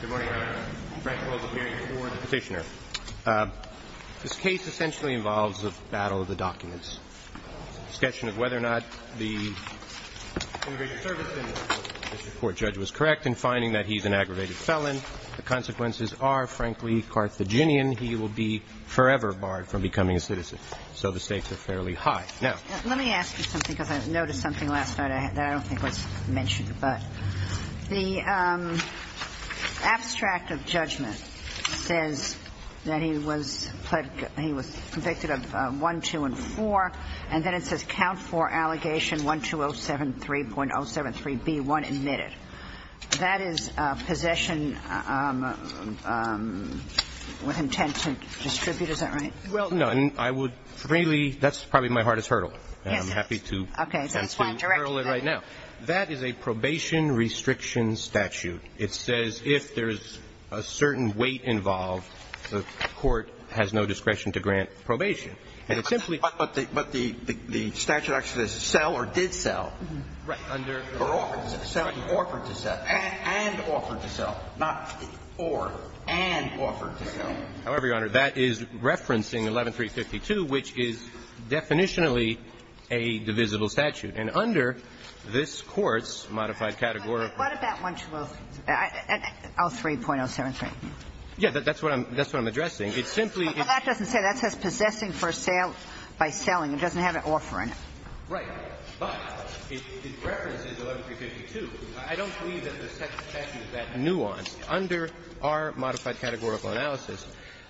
Good morning, Your Honor. Frank Wells, appearing before the Petitioner. This case essentially involves the battle of the documents. Discussion of whether or not the immigration service in this report judge was correct in finding that he's an aggravated felon. The consequences are, frankly, carthaginian. He will be forever barred from becoming a citizen. So the stakes are fairly high. Let me ask you something, because I noticed something last night that I don't think was mentioned. The abstract of judgment says that he was convicted of 1, 2, and 4. And then it says count for allegation 12073.073B1 admitted. That is possession with intent to distribute, is that right? Well, no. I would freely – that's probably my hardest hurdle. Yes, it is. And I'm happy to hurl it right now. That is a probation restriction statute. It says if there's a certain weight involved, the court has no discretion to grant probation. But the statute actually says sell or did sell. Right. Or offered to sell. Offered to sell. And offered to sell. Not or. And offered to sell. However, Your Honor, that is referencing 11352, which is definitionally a divisible statute. And under this Court's modified categorical – What about 1203.073? Yes. That's what I'm addressing. It simply – Well, that doesn't say that. It says possessing for a sale by selling. It doesn't have an offer in it. Right. But it references 11352. I don't believe that the statute is that nuanced. Under our modified categorical analysis,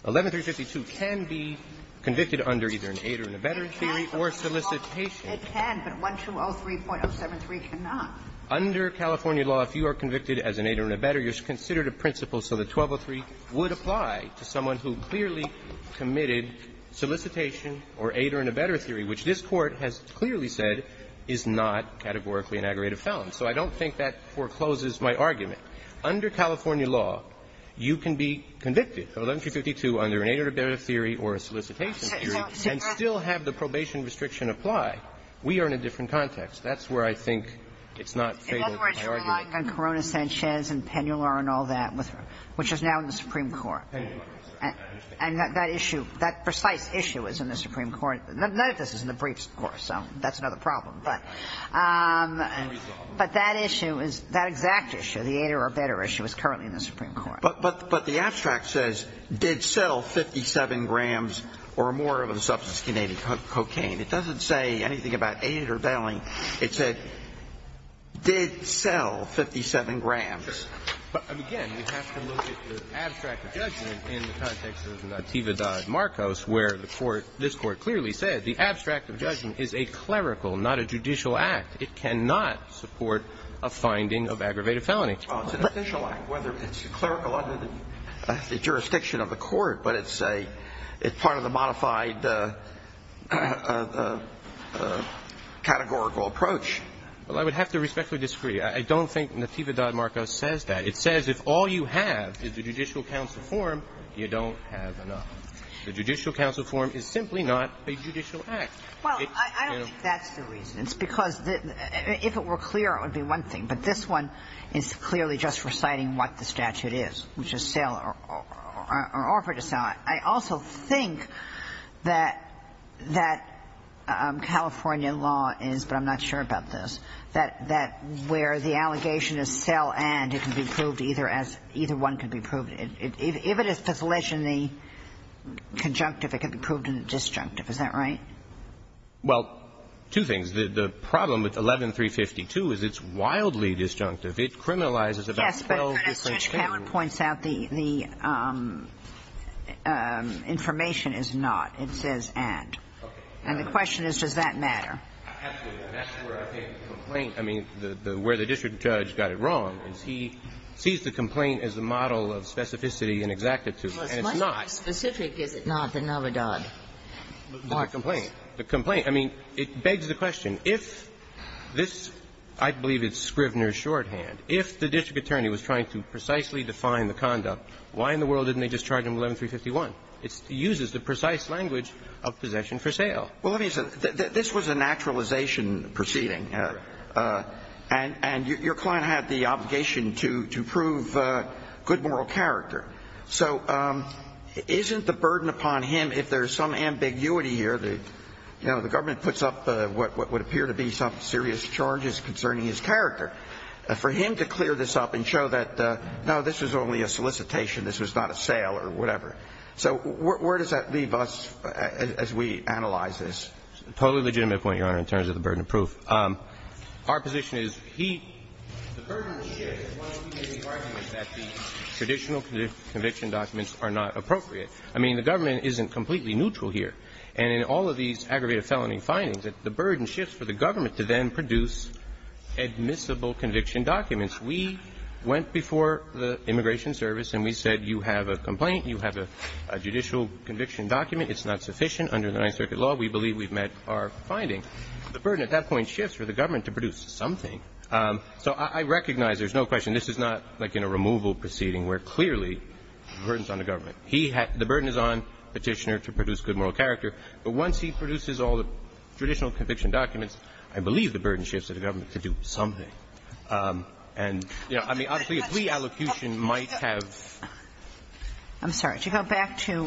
11352 can be convicted under either an aid or an abettor theory or solicitation. It can. But 1203.073 cannot. Under California law, if you are convicted as an aid or an abettor, you're considered a principal, so the 1203 would apply to someone who clearly committed solicitation or aid or an abettor theory, which this Court has clearly said is not categorically an aggravated felon. So I don't think that forecloses my argument. Under California law, you can be convicted of 11352 under an aid or an abettor theory or a solicitation theory and still have the probation restriction apply. We are in a different context. That's where I think it's not fatal to my argument. In other words, you're relying on Corona-Sanchez and Pennular and all that, which is now in the Supreme Court. And that issue, that precise issue is in the Supreme Court. None of this is in the briefs, of course, so that's another problem. But that issue is, that exact issue, the aid or abettor issue, is currently in the Supreme Court. But the abstract says, did sell 57 grams or more of a substance denoted cocaine. It doesn't say anything about aid or bailing. It said, did sell 57 grams. But, again, we have to look at the abstract of judgment in the context of Natividad Marcos, where the Court, this Court clearly said the abstract of judgment is a clerical, not a judicial act. It cannot support a finding of aggravated felony. Well, it's an official act, whether it's a clerical under the jurisdiction of the Court, but it's a, it's part of the modified categorical approach. Well, I would have to respectfully disagree. I don't think Natividad Marcos says that. It says, if all you have is a judicial counsel form, you don't have enough. The judicial counsel form is simply not a judicial act. Well, I don't think that's the reason. It's because, if it were clear, it would be one thing. But this one is clearly just reciting what the statute is, which is sell or abet or offer to sell. I also think that, that California law is, but I'm not sure about this, that, that where the allegation is sell and it can be proved either as, either one can be proved. If it is to fledge in the conjunctive, it can be proved in the disjunctive. Is that right? Well, two things. The problem with 11352 is it's wildly disjunctive. It criminalizes about 12 different cases. But as Judge Cameron points out, the information is not. It says and. And the question is, does that matter? Absolutely. And that's where I think the complaint, I mean, where the district judge got it wrong is he sees the complaint as a model of specificity and exactitude, and it's not. Well, it's much more specific, is it not, than Navidad Marcos? The complaint. The complaint. I mean, it begs the question, if this, I believe it's Scrivner's shorthand, if the district attorney was trying to precisely define the conduct, why in the world didn't they just charge him 11351? It uses the precise language of possession for sale. Well, let me say, this was a naturalization proceeding. And your client had the obligation to prove good moral character. So isn't the burden upon him, if there's some ambiguity here, you know, the government puts up what would appear to be some serious charges concerning his character. For him to clear this up and show that, no, this was only a solicitation, this was not a sale or whatever. So where does that leave us as we analyze this? A totally legitimate point, Your Honor, in terms of the burden of proof. Our position is he, the burden shifts once we make the argument that the traditional conviction documents are not appropriate. I mean, the government isn't completely neutral here. And in all of these aggravated felony findings, the burden shifts for the government to then produce admissible conviction documents. We went before the Immigration Service and we said you have a complaint, you have a judicial conviction document. It's not sufficient under the Ninth Circuit law. We believe we've met our finding. The burden at that point shifts for the government to produce something. So I recognize there's no question this is not like in a removal proceeding where clearly the burden is on the government. He had the burden is on Petitioner to produce good moral character. But once he produces all the traditional conviction documents, I believe the burden shifts for the government to do something. And, you know, I mean, obviously a plea allocation might have. I'm sorry. To go back to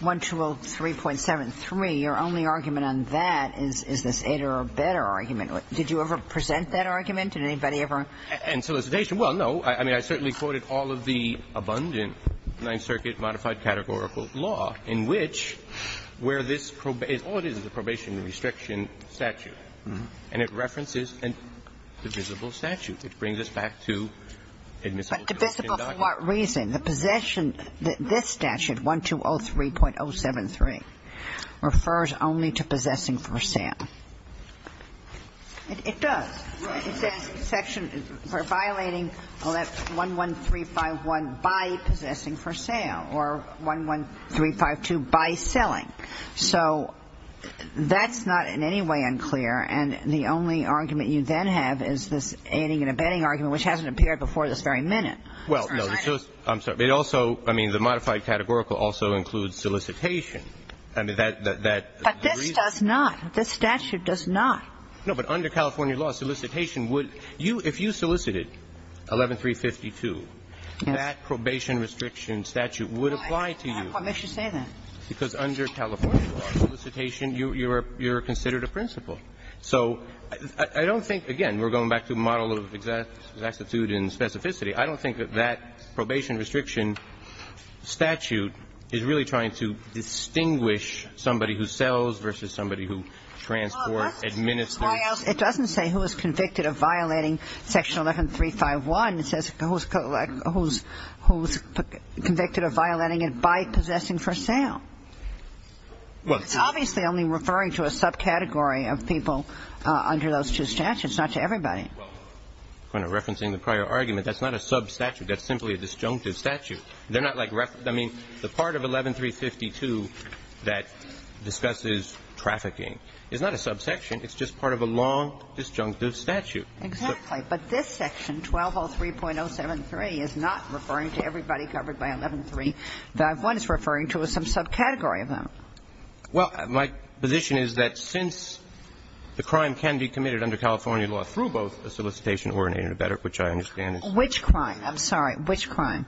1203.73, your only argument on that is this either-or-better argument. Did you ever present that argument? Did anybody ever? In solicitation? Well, no. I mean, I certainly quoted all of the abundant Ninth Circuit modified categorical statute law in which where this is all it is, is a probation restriction statute. And it references a divisible statute. It brings us back to admissible conviction documents. But divisible for what reason? The possession, this statute, 1203.073, refers only to possessing for sale. It does. It says section for violating 11351 by possessing for sale or 11352 by selling. So that's not in any way unclear. And the only argument you then have is this aiding and abetting argument, which hasn't appeared before this very minute. Well, no. I'm sorry. It also, I mean, the modified categorical also includes solicitation. I mean, that's the reason. But this does not. This statute does not. No, but under California law, solicitation would you – if you solicited 11352, that probation restriction statute would apply to you. Why make you say that? Because under California law, solicitation, you're considered a principal. So I don't think, again, we're going back to model of exactitude and specificity. I don't think that that probation restriction statute is really trying to distinguish somebody who sells versus somebody who transports, administers. It doesn't say who is convicted of violating section 11351. It says who is convicted of violating it by possessing for sale. It's obviously only referring to a subcategory of people under those two statutes, not to everybody. Referencing the prior argument, that's not a substatute. That's simply a disjunctive statute. They're not like – I mean, the part of 11352 that discusses trafficking is not a subsection. It's just part of a long disjunctive statute. Exactly. But this section, 1203.073, is not referring to everybody covered by 11351. It's referring to some subcategory of them. Well, my position is that since the crime can be committed under California law through both a solicitation or an intermediate, which I understand. Which crime? Which crime?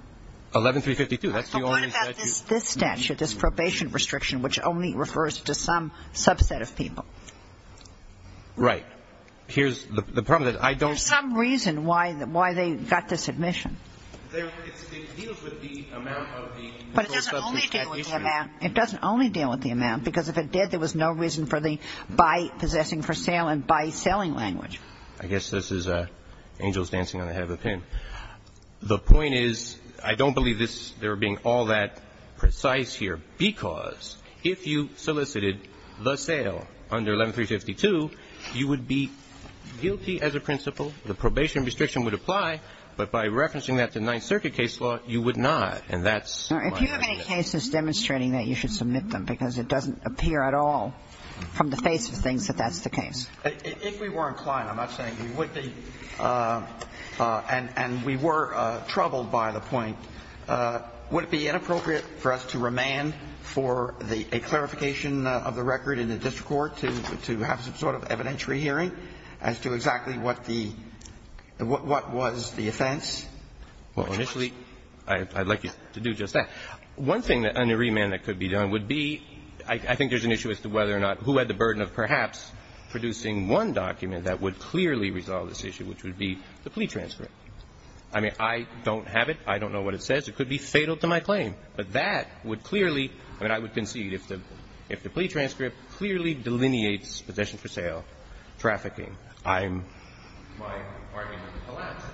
11352. That's the only statute. What about this statute, this probation restriction, which only refers to some subset of people? Right. Here's the problem, that I don't – There's some reason why they got this admission. It deals with the amount of the – But it doesn't only deal with the amount. It doesn't only deal with the amount, because if it did, there was no reason for the by possessing for sale and by selling language. I guess this is angels dancing on the head of a pin. The point is, I don't believe this – there being all that precise here, because if you solicited the sale under 11352, you would be guilty as a principal. The probation restriction would apply, but by referencing that to Ninth Circuit case law, you would not. And that's my opinion. If you have any cases demonstrating that, you should submit them, because it doesn't appear at all from the face of things that that's the case. If we were inclined, I'm not saying we would be, and we were troubled by the point, would it be inappropriate for us to remand for a clarification of the record in the district court to have some sort of evidentiary hearing as to exactly what the – what was the offense? Well, initially, I'd like you to do just that. One thing under remand that could be done would be – I think there's an issue as to whether or not – who had the burden of perhaps producing one document that would clearly resolve this issue, which would be the plea transcript. I mean, I don't have it. I don't know what it says. It could be fatal to my claim. But that would clearly – I mean, I would concede if the plea transcript clearly delineates possession for sale, trafficking, I'm – my argument collapses.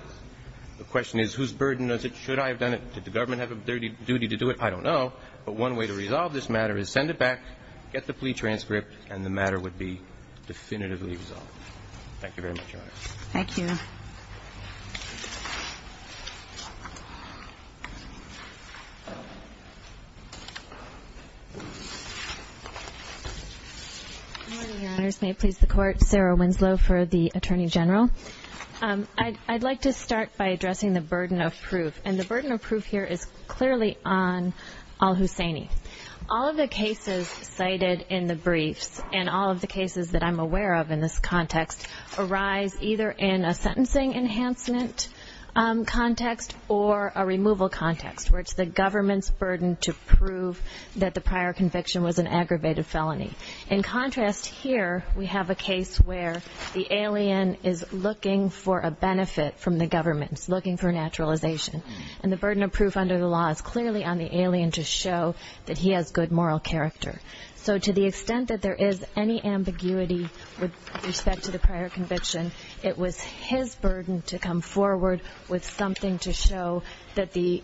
The question is, whose burden is it? Should I have done it? Did the government have a duty to do it? I don't know. But one way to resolve this matter is send it back, get the plea transcript, and the matter would be definitively resolved. Thank you very much, Your Honor. Thank you. Good morning, Your Honors. May it please the Court. Sarah Winslow for the Attorney General. I'd like to start by addressing the burden of proof. And the burden of proof here is clearly on al-Husseini. All of the cases cited in the briefs and all of the cases that I'm aware of in this context arise either in a sentencing enhancement context or a removal context, where it's the government's burden to prove that the prior conviction was an aggravated felony. In contrast here, we have a case where the alien is looking for a benefit from the government, looking for naturalization. And the burden of proof under the law is clearly on the alien to show that he has good moral character. So to the extent that there is any ambiguity with respect to the prior conviction, it was his burden to come forward with something to show that the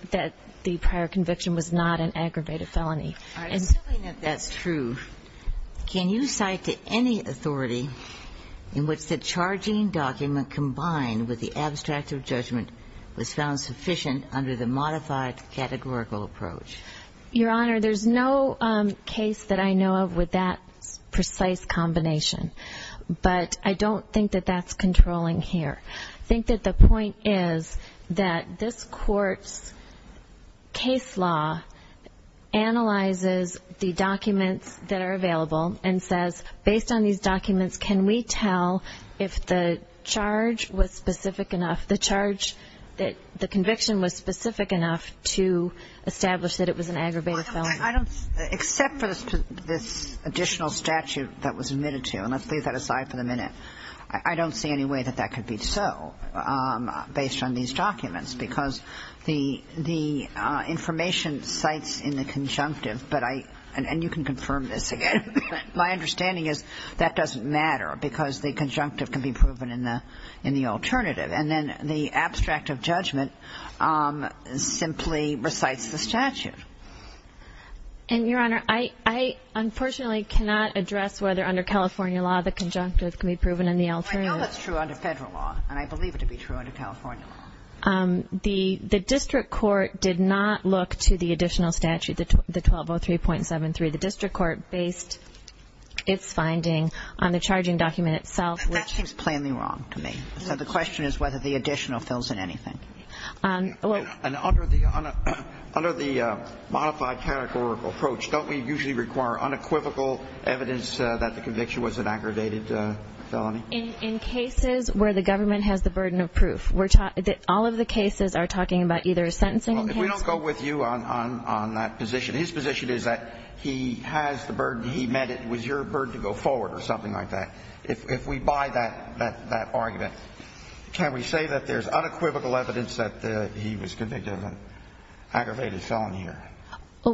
prior conviction was not an aggravated felony. All right. Assuming that that's true, can you cite any authority in which the charging document combined with the abstract of judgment was found sufficient under the modified categorical approach? Your Honor, there's no case that I know of with that precise combination. But I don't think that that's controlling here. I think that the point is that this Court's case law analyzes the documents that are available and says, based on these documents, can we tell if the charge was specific enough, the charge that the conviction was specific enough to establish that it was an aggravated felony? Except for this additional statute that was admitted to, and let's leave that aside for the minute, I don't see any way that that could be so based on these documents, because the information cites in the conjunctive, and you can confirm this again, my understanding is that doesn't matter because the conjunctive can be proven in the alternative. And then the abstract of judgment simply recites the statute. And, Your Honor, I unfortunately cannot address whether under California law the conjunctive can be proven in the alternative. I know that's true under Federal law, and I believe it to be true under California law. The district court did not look to the additional statute, the 1203.73. The district court based its finding on the charging document itself. That seems plainly wrong to me. So the question is whether the additional fills in anything. And under the modified categorical approach, don't we usually require unequivocal evidence that the conviction was an aggravated felony? In cases where the government has the burden of proof, all of the cases are talking about either a sentencing case. Well, if we don't go with you on that position, his position is that he has the burden, he meant it was your burden to go forward or something like that. If we buy that argument, can we say that there's unequivocal evidence that he was convicted of an aggravated felony here?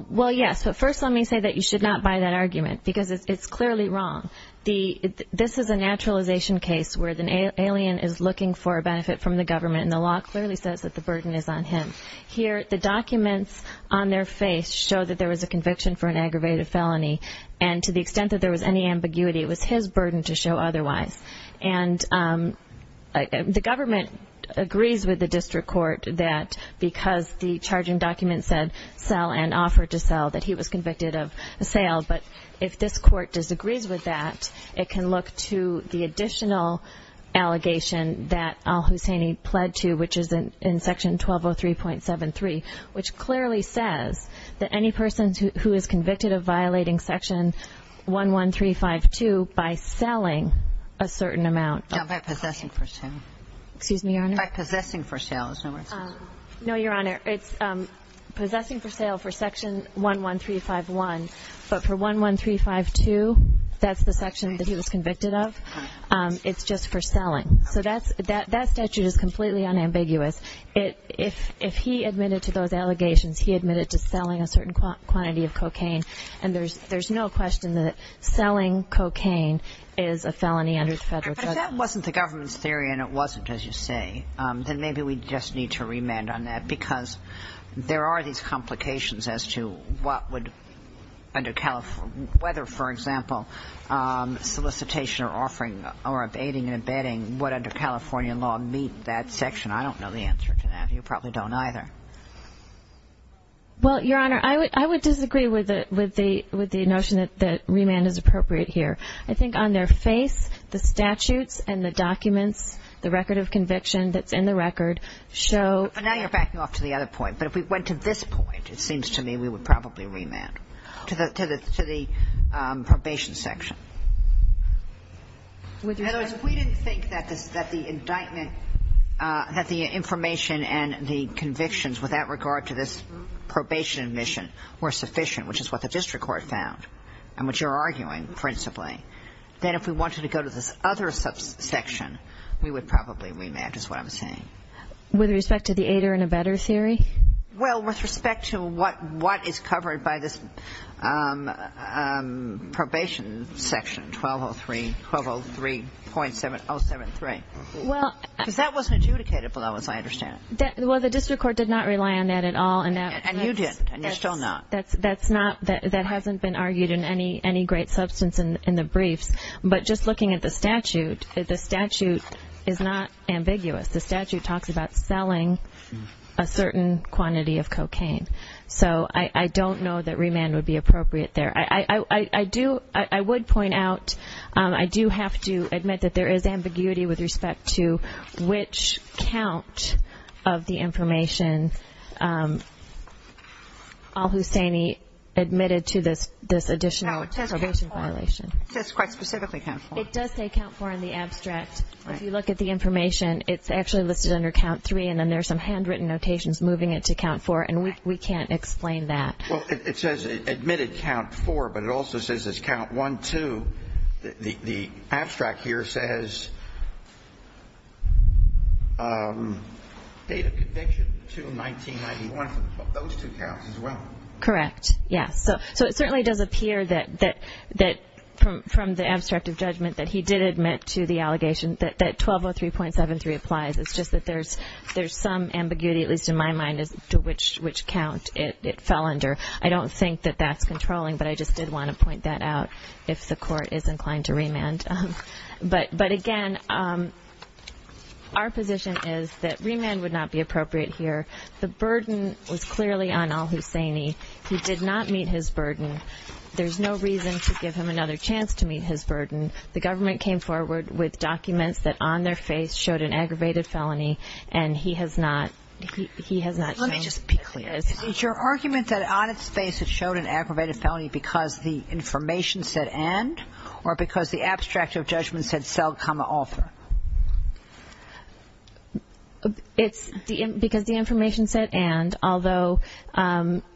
Well, yes. But first let me say that you should not buy that argument because it's clearly wrong. This is a naturalization case where the alien is looking for a benefit from the government, and the law clearly says that the burden is on him. Here the documents on their face show that there was a conviction for an aggravated felony, and to the extent that there was any ambiguity, it was his burden to show otherwise. And the government agrees with the district court that because the charging document said sell and offered to sell that he was convicted of a sale, but if this court disagrees with that, it can look to the additional allegation that Al-Husseini pled to, which is in Section 1203.73, which clearly says that any person who is convicted of violating Section 11352 by selling a certain amount. No, by possessing for sale. Excuse me, Your Honor? By possessing for sale. No, Your Honor. It's possessing for sale for Section 11351, but for 11352, that's the section that he was convicted of. It's just for selling. So that statute is completely unambiguous. If he admitted to those allegations, he admitted to selling a certain quantity of cocaine, and there's no question that selling cocaine is a felony under the Federal Code. But that wasn't the government's theory, and it wasn't, as you say. Then maybe we just need to remand on that because there are these complications as to what would, whether, for example, solicitation or offering or abating and abetting, what under California law meet that section. I don't know the answer to that. You probably don't either. Well, Your Honor, I would disagree with the notion that remand is appropriate here. I think on their face, the statutes and the documents, the record of conviction that's in the record show. But now you're backing off to the other point. But if we went to this point, it seems to me we would probably remand to the probation section. In other words, if we didn't think that the indictment, that the information and the convictions with that regard to this probation admission were sufficient, which is what the district court found and which you're arguing principally, then if we wanted to go to this other section, we would probably remand is what I'm saying. With respect to the AIDER and abetter theory? Well, with respect to what is covered by this probation section, 1203.073. Because that wasn't adjudicated below, as I understand it. Well, the district court did not rely on that at all. And you didn't, and you're still not. That hasn't been argued in any great substance in the briefs. But just looking at the statute, the statute is not ambiguous. The statute talks about selling a certain quantity of cocaine. So I don't know that remand would be appropriate there. I would point out I do have to admit that there is ambiguity with respect to which count of the information al-Husseini admitted to this additional probation violation. No, it says count four. It says quite specifically count four. It does say count four in the abstract. If you look at the information, it's actually listed under count three, and then there's some handwritten notations moving it to count four, and we can't explain that. Well, it says admitted count four, but it also says it's count one, two. The abstract here says date of conviction, June 1991. Those two counts as well. Correct, yes. So it certainly does appear that from the abstract of judgment that he did admit to the allegation that 1203.73 applies. It's just that there's some ambiguity, at least in my mind, as to which count it fell under. I don't think that that's controlling, but I just did want to point that out if the court is inclined to remand. But, again, our position is that remand would not be appropriate here. The burden was clearly on al-Husseini. He did not meet his burden. There's no reason to give him another chance to meet his burden. The government came forward with documents that on their face showed an aggravated felony, and he has not shown it. Let me just be clear. Is your argument that on its face it showed an aggravated felony because the information said and or because the abstract of judgment said sell, author? It's because the information said and, although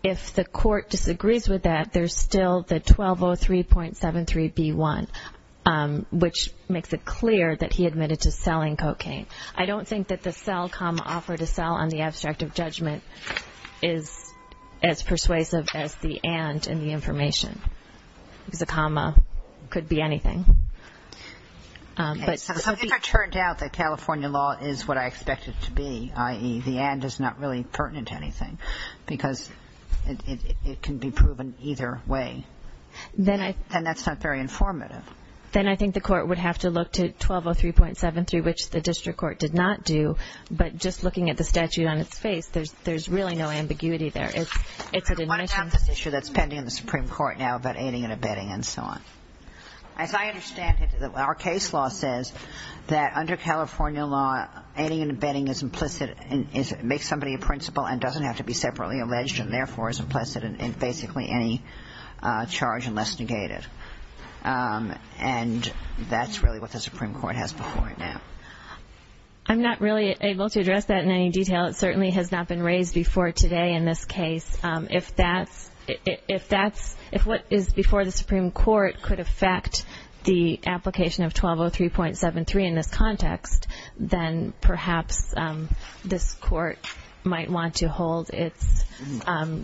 if the court disagrees with that, there's still the 1203.73b1, which makes it clear that he admitted to selling cocaine. I don't think that the sell, comma, offer to sell on the abstract of judgment is as persuasive as the and in the information. The comma could be anything. So if it turned out that California law is what I expect it to be, i.e., the and is not really pertinent to anything because it can be proven either way, then that's not very informative. Then I think the court would have to look to 1203.73, which the district court did not do. But just looking at the statute on its face, there's really no ambiguity there. It's an initial. I want to talk about this issue that's pending in the Supreme Court now about aiding and abetting and so on. As I understand it, our case law says that under California law, aiding and abetting is implicit and makes somebody a principal and doesn't have to be separately alleged and therefore is implicit in basically any charge unless negated. And that's really what the Supreme Court has before it now. I'm not really able to address that in any detail. It certainly has not been raised before today in this case. If what is before the Supreme Court could affect the application of 1203.73 in this context, then perhaps this court might want to hold its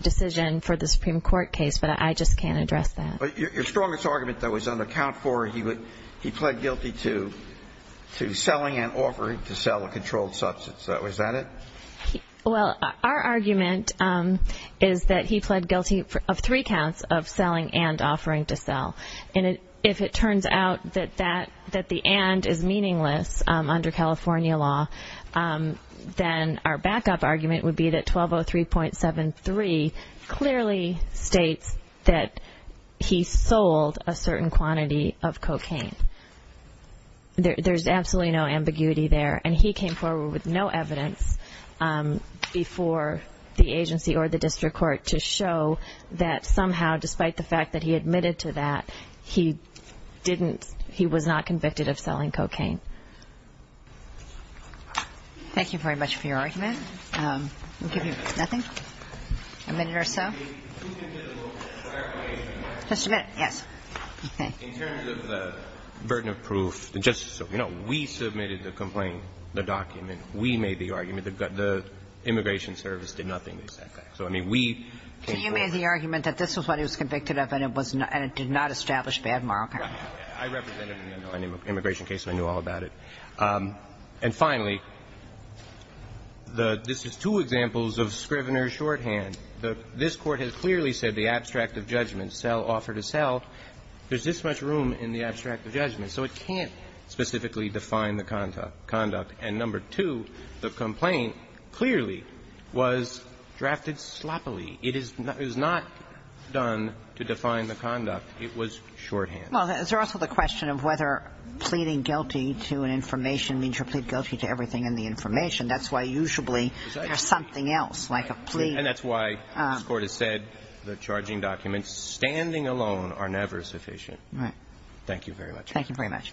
decision for the Supreme Court case. But I just can't address that. Your strongest argument, though, is under count four, he pled guilty to selling and offering to sell a controlled substance. Is that it? Well, our argument is that he pled guilty of three counts of selling and offering to sell. And if it turns out that the and is meaningless under California law, then our backup argument would be that 1203.73 clearly states that he sold a certain quantity of cocaine. There's absolutely no ambiguity there. And he came forward with no evidence before the agency or the district court to show that somehow despite the fact that he admitted to that, he didn't he was not convicted of selling cocaine. Thank you very much for your argument. I'll give you nothing, a minute or so. Just a minute, yes. In terms of the burden of proof, just so you know, we submitted the complaint, the document. We made the argument. The immigration service did nothing with that fact. So, I mean, we came forward. So you made the argument that this was what he was convicted of and it was not and it did not establish bad mark. I represented an immigration case and I knew all about it. And finally, this is two examples of Scrivener's shorthand. This Court has clearly said the abstract of judgment, sell, offer to sell. There's this much room in the abstract of judgment. So it can't specifically define the conduct. And number two, the complaint clearly was drafted sloppily. It is not done to define the conduct. It was shorthand. Well, there's also the question of whether pleading guilty to an information means you're pleading guilty to everything in the information. That's why usually there's something else, like a plea. And that's why this Court has said the charging documents standing alone are never sufficient. Right. Thank you very much. Thank you very much.